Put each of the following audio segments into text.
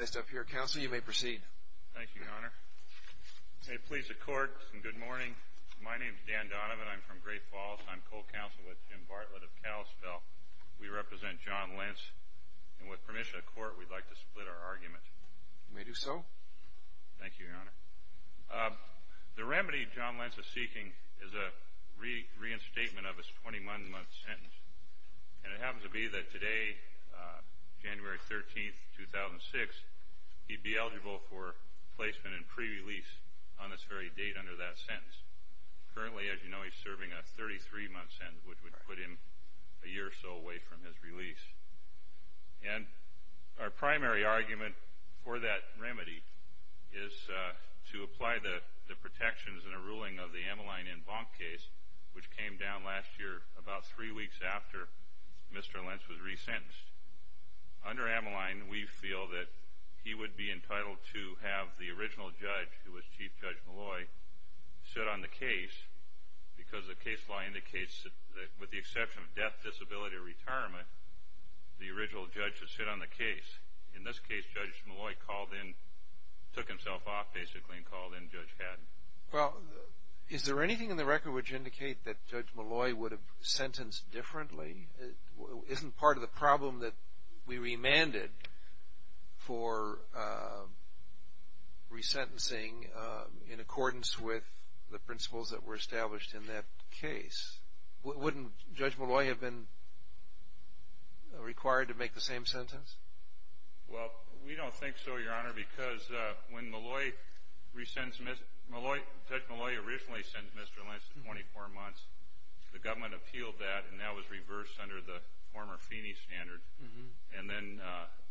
Next up here, Counsel, you may proceed. Thank you, Your Honor. May it please the Court, good morning. My name is Dan Donovan. I'm from Great Falls. I'm co-counsel with Jim Bartlett of Kalispell. We represent John Lence. And with permission of the Court, we'd like to split our argument. You may do so. Thank you, Your Honor. The remedy John Lence is seeking is a reinstatement of his 21-month sentence. And it happens to be that today, January 13, 2006, he'd be eligible for placement and pre-release on this very date under that sentence. Currently, as you know, he's serving a 33-month sentence, which would put him a year or so away from his release. And our primary argument for that remedy is to apply the protections in a ruling of the Ameline and Bonk case, which came down last year, about three weeks after Mr. Lence was resentenced. Under Ameline, we feel that he would be entitled to have the original judge, who was Chief Judge Malloy, sit on the case, because the case law indicates that with the exception of death, disability, or retirement, the original judge should sit on the case. In this case, Judge Malloy called in, took himself off, basically, and called in Judge Haddon. Well, is there anything in the record which indicates that Judge Malloy would have sentenced differently? Isn't part of the problem that we remanded for resentencing in accordance with the principles that were established in that case? Wouldn't Judge Malloy have been required to make the same sentence? Well, we don't think so, Your Honor, because when Malloy resents Mr. Lence, Judge Malloy originally sent Mr. Lence 24 months. The government appealed that, and that was reversed under the former Feeney standard. And then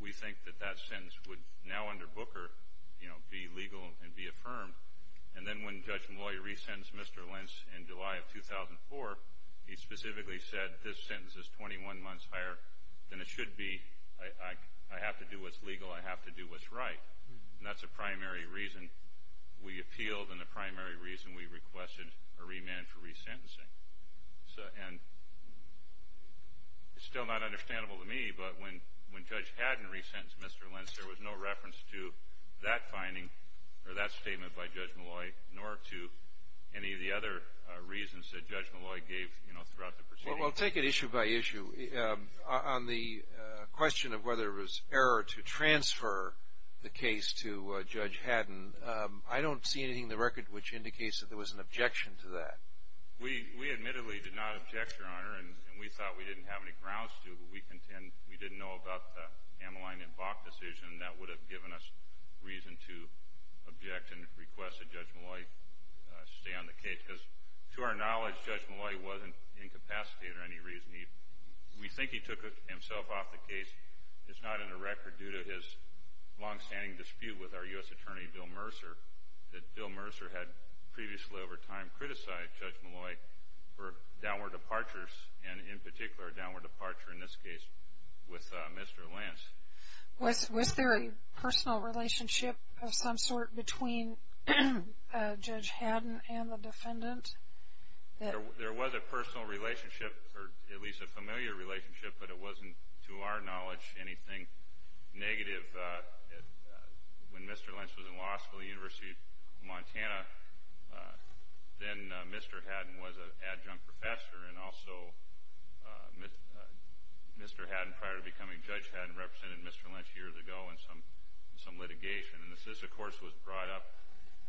we think that that sentence would now, under Booker, be legal and be affirmed. And then when Judge Malloy resents Mr. Lence in July of 2004, he specifically said this sentence is 21 months higher than it should be. I have to do what's legal. I have to do what's right. And that's a primary reason we appealed and a primary reason we requested a remand for resentencing. And it's still not understandable to me, but when Judge Haddon resentenced Mr. Lence, there was no reference to that finding or that statement by Judge Malloy, nor to any of the other reasons that Judge Malloy gave throughout the proceedings. Well, take it issue by issue. On the question of whether it was error to transfer the case to Judge Haddon, I don't see anything in the record which indicates that there was an objection to that. We admittedly did not object, Your Honor, and we thought we didn't have any grounds to, but we contend we didn't know about the Ameline and Bach decision that would have given us reason to object and request that Judge Malloy stay on the case, because to our knowledge, Judge Malloy wasn't incapacitated for any reason. We think he took himself off the case. It's not in the record due to his longstanding dispute with our U.S. Attorney Bill Mercer that Bill Mercer had previously, over time, criticized Judge Malloy for downward departures and, in particular, a downward departure in this case with Mr. Lence. Was there a personal relationship of some sort between Judge Haddon and the defendant? There was a personal relationship, or at least a familiar relationship, but it wasn't to our knowledge anything negative. When Mr. Lence was in law school at the University of Montana, then Mr. Haddon was an adjunct professor, and also Mr. Haddon, prior to becoming Judge Haddon, represented Mr. Lence years ago in some litigation. And this, of course, was brought up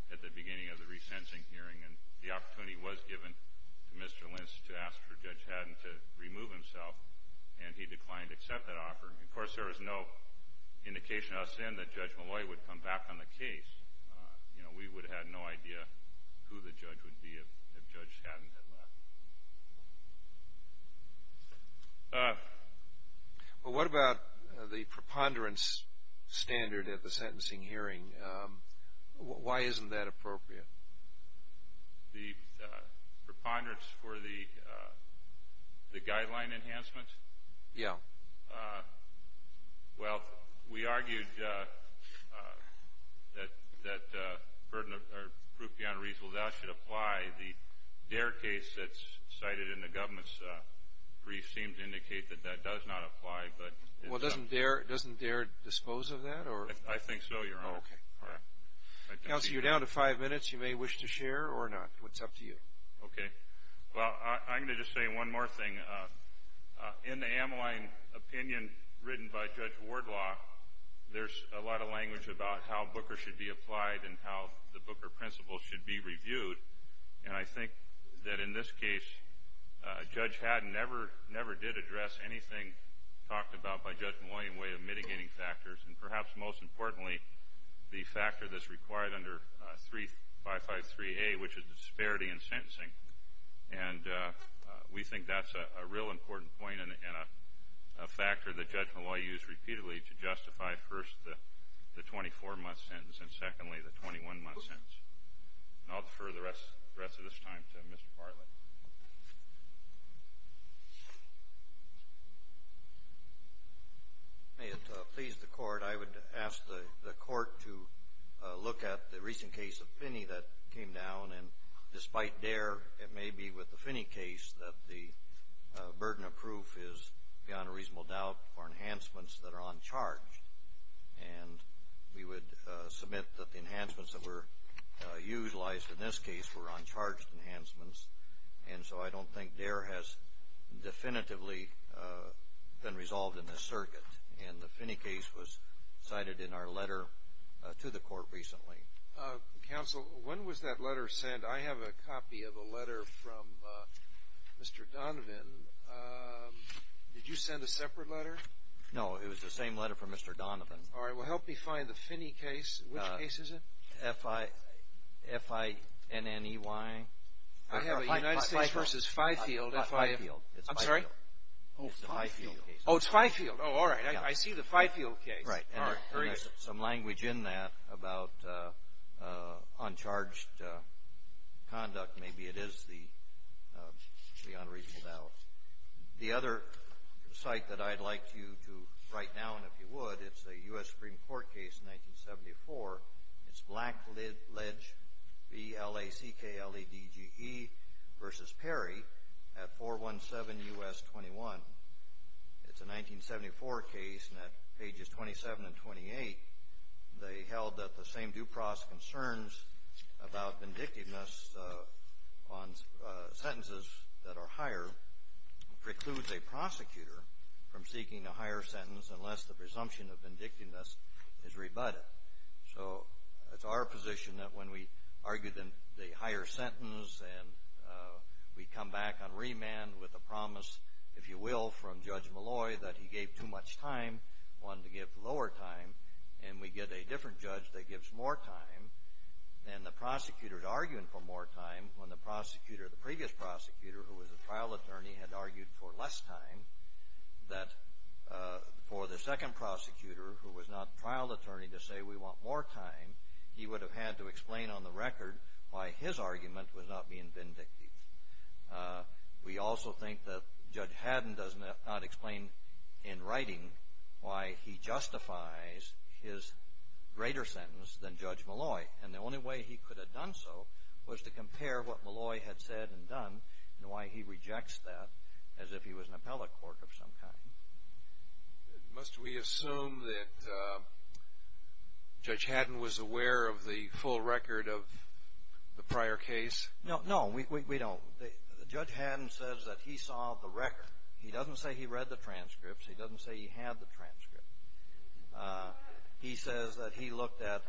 at the beginning of the re-sensing hearing, and the opportunity was given to Mr. Lence to ask for Judge Haddon to remove himself, and he did, and there was no indication us in that Judge Malloy would come back on the case. We would have had no idea who the judge would be if Judge Haddon had left. What about the preponderance standard at the sentencing hearing? Why isn't that appropriate? The preponderance for the guideline enhancements? Yeah. Well, we argued that that should apply. The DARE case that's cited in the government's brief seems to indicate that that does not apply. Well, doesn't DARE dispose of that? I think so, Your Honor. Counsel, you're down to five minutes. You may wish to share or not. It's up to you. Okay. Well, I'm going to just say one more thing. In the Ameline opinion written by Judge Wardlaw, there's a lot of language about how Booker should be applied and how the Booker principle should be reviewed, and I think that in this case Judge Haddon never did address anything talked about by Judge Malloy in the way of mitigating factors, and perhaps most importantly, the factor that's required under 3553A, which is disparity in sentencing. And we think that's a real important point and a factor that Judge Malloy used repeatedly to justify, first, the 24-month sentence and, secondly, the 21-month sentence. And I'll defer the rest of this time to Mr. Bartlett. May it please the Court, I would ask the Court to look at the recent case of Pinney that came down and, despite Dare, it may be with the Pinney case that the burden of proof is beyond a reasonable doubt for enhancements that are uncharged. And we would submit that the enhancements that were utilized in this case were uncharged enhancements, and so I don't think Dare has definitively been resolved in this circuit. And the Pinney case was cited in our letter to the Court recently. Counsel, when was that letter sent? I have a copy of a letter from Mr. Donovan. Did you send a separate letter? No. It was the same letter from Mr. Donovan. All right. Well, help me find the Pinney case. Which case is it? F-I-N-N-E-Y. I have a United States versus Fifield. I'm sorry? Oh, it's Fifield. Oh, all right. I see the Fifield case. There is some language in that about uncharged conduct. Maybe it is the beyond a reasonable doubt. The other site that I'd like you to write down if you would, it's a U.S. Supreme Court case, 1974. It's Blackledge B-L-A-C-K-L-A-D-G-E versus Perry at 417 U.S. 21. It's a 1974 case, and at pages 27 and 28, they held that the same Dupross concerns about vindictiveness on sentences that are higher precludes a prosecutor from seeking a higher sentence unless the presumption of vindictiveness is rebutted. So, it's our position that when we argue the higher sentence and we come back on remand with a promise, if you will, from Judge Malloy that he gave too much time, wanted to give lower time, and we get a different judge that gives more time, and the prosecutor is arguing for more time when the prosecutor, the previous prosecutor who was the trial attorney, had argued for less time, that for the second prosecutor who was not the trial attorney to say we want more time, he would have had to explain on the record why his argument was not being vindictive. We also think that Judge Haddon does not explain in writing why he justifies his greater sentence than Judge Malloy, and the only way he could have done so was to compare what Malloy had said and done and why he rejects that as if he was an appellate court of some kind. Must we assume that Judge Haddon was aware of the full record of the prior case? No, no, we don't. Judge Haddon says that he saw the record. He doesn't say he read the transcripts. He doesn't say he had the transcript. He says that he looked at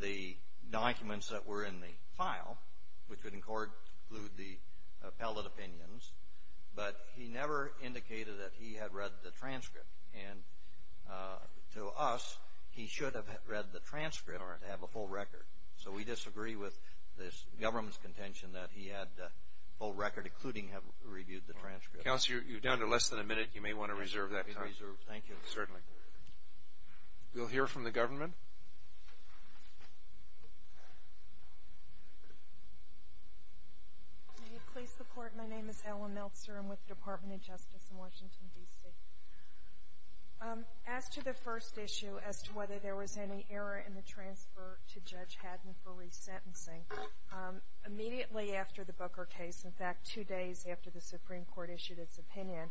the documents that were in the file, which would include the appellate opinions, but he never indicated that he had read the transcript, and to us, he should have read the transcript or have a full record, so we disagree with this government's full record, including have reviewed the transcript. Counselor, you're down to less than a minute. You may want to reserve that time. Thank you. Certainly. We'll hear from the government. May you please support my name is Ellen Meltzer. I'm with the Department of Justice in Washington, D.C. As to the first issue, as to whether there was any error in the transfer to Judge Haddon for resentencing, immediately after the Booker case, in fact, two days after the Supreme Court issued its opinion,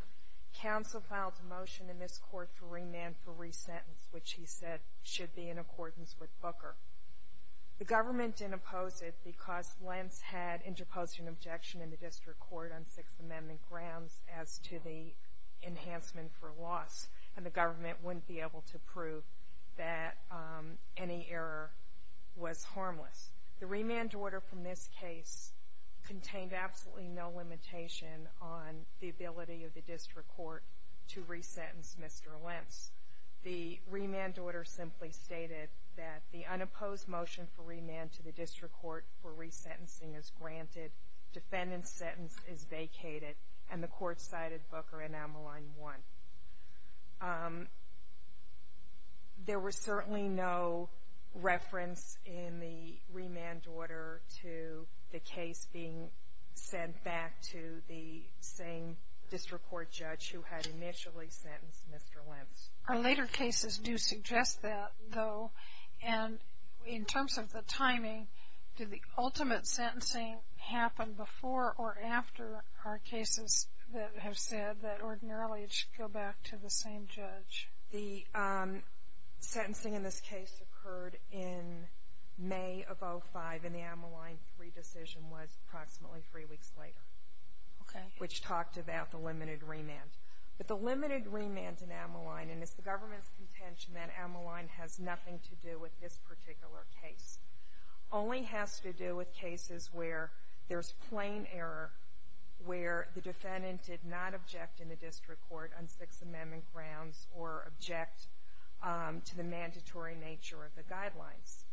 counsel filed a motion in this court for remand for resentence, which he said should be in accordance with Booker. The government didn't oppose it because Lentz had interposed an objection in the District Court on Sixth Amendment grounds as to the enhancement for loss, and the government wouldn't be able to prove that any error was harmless. The remand order from this case contained absolutely no limitation on the ability of the District Court to resentence Mr. Lentz. The remand order simply stated that the unopposed motion for remand to the District Court for resentencing is granted, defendant's sentence is vacated, and the court cited Booker Enameline 1. There were certainly no reference in the remand order to the case being sent back to the same District Court judge who had initially sentenced Mr. Lentz. Our later cases do suggest that, though, and in terms of the timing, did the ultimate sentencing happen before or after our cases that have said that ordinarily it should go back to the same judge? The sentencing in this case occurred in May of 05, and the Enameline 3 decision was approximately three weeks later, which talked about the limited remand. But the limited remand in Enameline, and it's the government's contention that Enameline has nothing to do with this particular case, only has to do with cases where there's plain error where the defendant did not object in the District Court on Sixth Amendment grounds or object to the mandatory nature of the guidelines.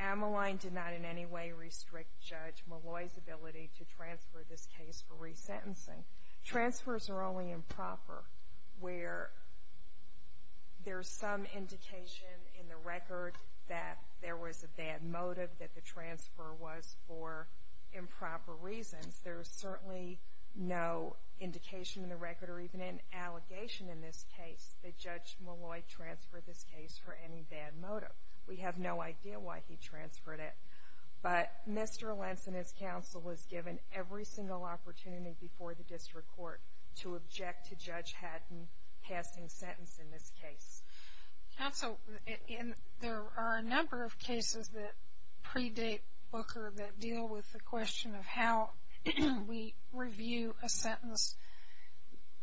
Enameline did not in any way restrict Judge Molloy's ability to transfer this case for resentencing. Transfers are only improper where there's some indication in the record that there was a bad motive that the transfer was for improper reasons. There's certainly no indication in the record or even an allegation in this case that Judge Molloy transferred this case for any bad motive. We have no idea why he transferred it. But Mr. Lentz and his counsel was given every single opportunity before the District Court to object to Judge Hatton passing sentence in this case. Counsel, there are a number of cases that predate Booker that deal with the question of how we review a sentence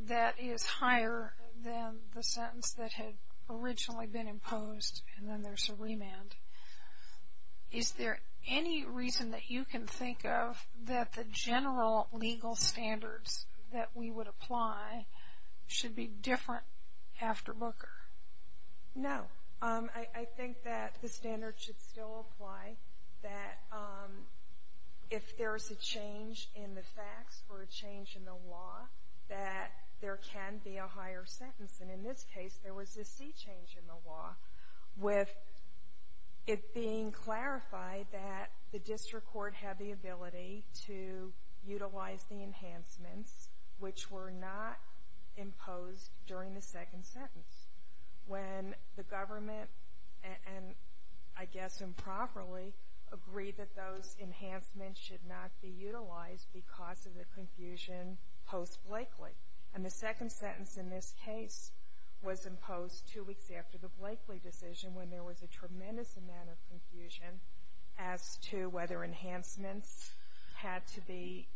that is higher than the sentence that had originally been imposed and then there's a remand. Is there any reason that you can think of that the general legal standards that we would apply should be different after Booker? No. I think that the standards should still apply. That if there's a change in the facts or a change in the law, that there can be a higher sentence. And in this case, there was a C change in the law with it being clarified that the District Court had the ability to utilize the enhancements which were not imposed during the second sentence. When the government and I guess improperly agreed that those enhancements should not be utilized because of the confusion post-Blakely. And the second sentence in this case was imposed two weeks after the Blakely decision when there was a tremendous amount of confusion as to whether enhancements had to be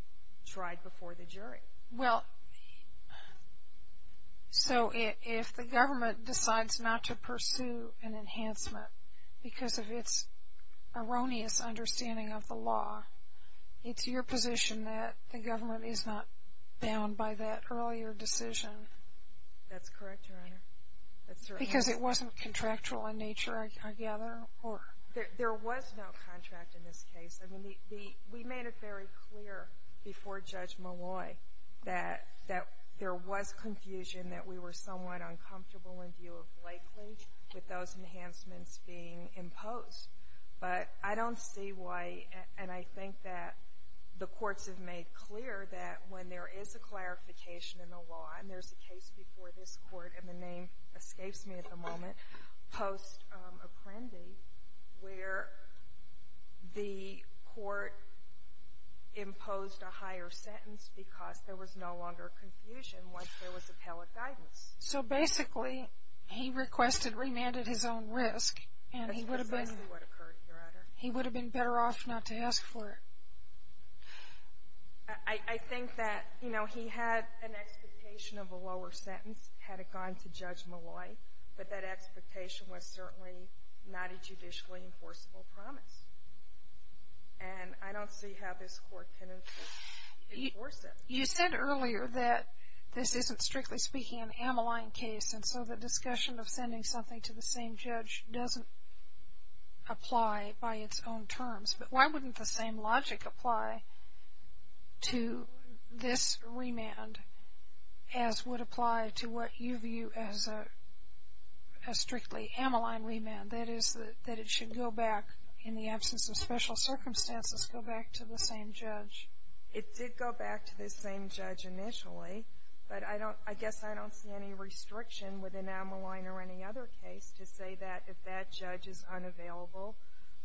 tried before the jury. Well, so if the government decides not to pursue an erroneous understanding of the law, it's your position that the government is not bound by that earlier decision? That's correct, Your Honor. Because it wasn't contractual in nature, I gather? There was no contract in this case. We made it very clear before Judge Malloy that there was confusion that we were somewhat uncomfortable in view of Blakely with those enhancements being imposed. But I don't see why and I think that the courts have made clear that when there is a clarification in the law, and there's a case before this court and the name escapes me at the moment, post-Apprendi, where the court imposed a higher sentence because there was no longer confusion once there was appellate guidance. So basically, he requested remand at his own risk and he would have been better off not to ask for it. I think that, you know, he had an expectation of a lower sentence had it gone to Judge Malloy, but that expectation was certainly not a judicially enforceable promise. And I don't see how this court can enforce it. You said earlier that this isn't, strictly speaking, an Ammaline case, and so the discussion of sending something to the same judge doesn't apply by its own terms. But why wouldn't the same logic apply to this remand as would apply to what you view as a strictly Ammaline remand? That is, that it should go back, in the absence of special circumstances, go back to the same judge. It did go back to the same judge initially, but I don't, I guess I don't see any restriction within Ammaline or any other case to say that if that judge is unavailable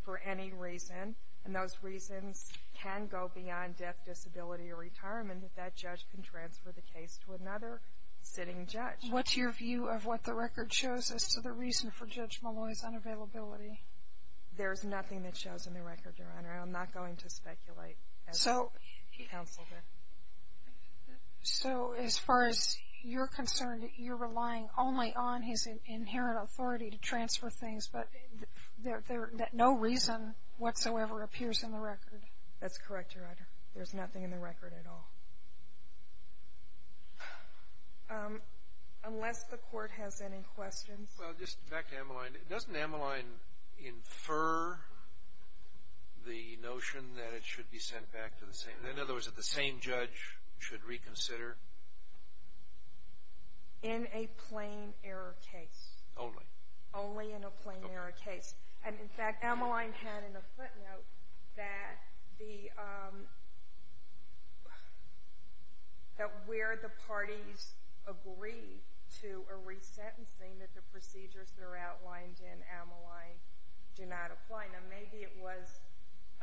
for any reason, and those reasons can go beyond death, disability, or retirement, that that judge can transfer the case to another sitting judge. What's your view of what the record shows as to the reason for Judge Malloy's unavailability? There's nothing that shows in the record, Your Honor, and I'm not going to speculate as to the counsel there. So as far as you're concerned, you're relying only on his inherent authority to transfer things, but no reason whatsoever appears in the record? That's correct, Your Honor. There's nothing in the record at all. Unless the Court has any questions. Well, just back to Ammaline, doesn't Ammaline infer the notion that it should be sent back to the same? In other words, that the same judge should reconsider? In a plain error case. Only? Only in a plain error case. And, in fact, Ammaline had in a footnote that the that where the parties agreed to a resentencing, that the procedures that are outlined in Ammaline do not apply. Now, maybe it was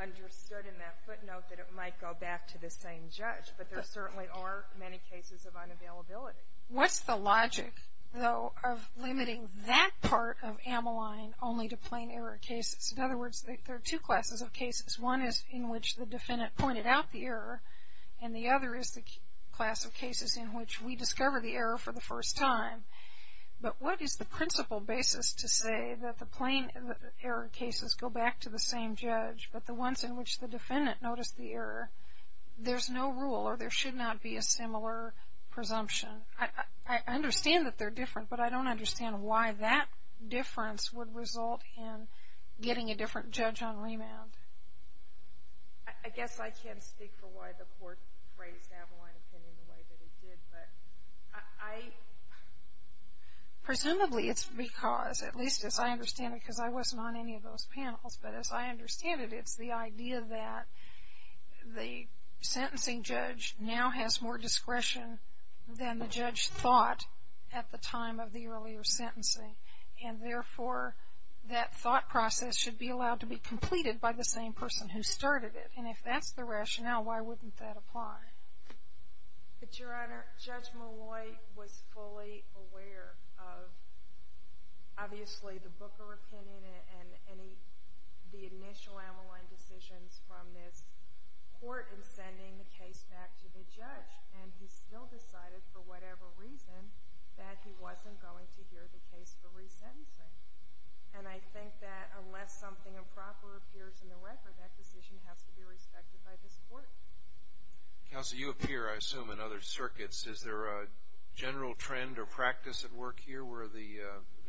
understood in that footnote that it might go back to the same judge, but there certainly are many cases of unavailability. What's the logic, though, of limiting that part of Ammaline only to plain error cases? In other words, there are two classes of cases. One is in which the defendant pointed out the error, and the other is the class of cases in which we discover the error for the first time. But what is the principle basis to say that the same judge, but the ones in which the defendant noticed the error, there's no rule, or there should not be a similar presumption? I understand that they're different, but I don't understand why that difference would result in getting a different judge on remand. I guess I can't speak for why the Court raised Ammaline opinion the way that it did, but I Presumably it's because, at least as I understand it, because I wasn't on any of those panels, but as I understand it, it's the idea that the sentencing judge now has more discretion than the judge thought at the time of the earlier sentencing, and therefore that thought process should be allowed to be completed by the same person who started it. And if that's the rationale, why wouldn't that apply? But, Your Honor, Judge Malloy was fully aware of obviously the Booker opinion and the initial Ammaline decisions from this Court in sending the case back to the judge, and he still decided, for whatever reason, that he wasn't going to hear the case for resentencing. And I think that unless something improper appears in the record, that decision has to be respected by this Court. Counsel, you appear, I assume, in other circuits. Is there a general trend or practice at work here where the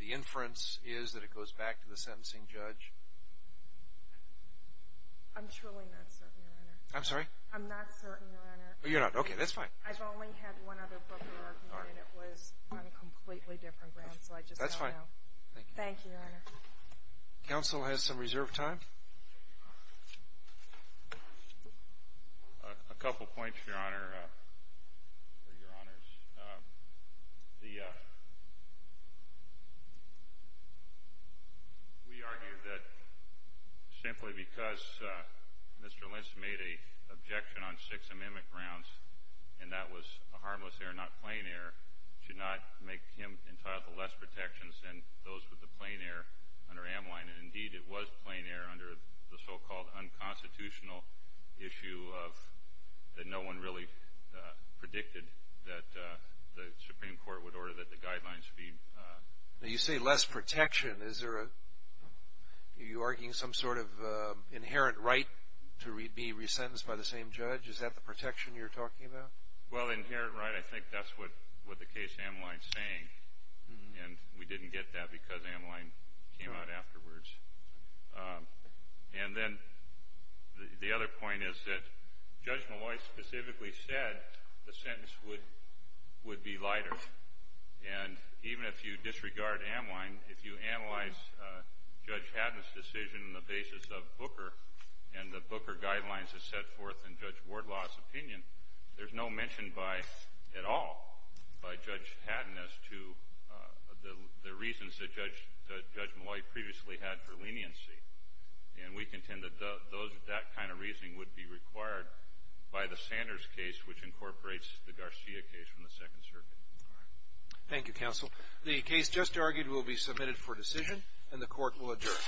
inference is that it goes back to the sentencing judge? I'm truly not certain, Your Honor. I'm sorry? I'm not certain, Your Honor. Oh, you're not? Okay, that's fine. I've only had one other Booker argument, and it was on a completely different ground, so I just don't know. That's fine. Thank you. Thank you, Your Honor. Counsel has some reserved time. A couple points, Your Honor. We argue that simply because Mr. Lentz made an objection on six amendment grounds, and that was harmless error, not plain error, should not make him entitled to less protections than those with the plain error under Amline. And indeed, it was plain error under the so-called unconstitutional issue of that no one really predicted that the Supreme Court would order that the guidelines be... Now, you say less protection. Is there a... Are you arguing some sort of inherent right to be resentenced by the same judge? Is that the protection you're talking about? Well, inherent right, I think that's what the case Amline's saying, and we didn't get that because Amline came out afterwards. And then the other point is that Judge Molloy specifically said the sentence would be lighter. And even if you disregard Amline, if you analyze Judge Haddon's decision on the basis of Booker and the Booker guidelines as set forth in Judge Wardlaw's opinion, there's no mention by... at all by Judge Haddon as to the reasons that Judge Molloy previously had for leniency. And we contend that those... that kind of reasoning would be required by the Sanders case, which incorporates the Garcia case from the Second Circuit. Thank you, Counsel. The case just argued will be submitted for decision, and the Court will adjourn.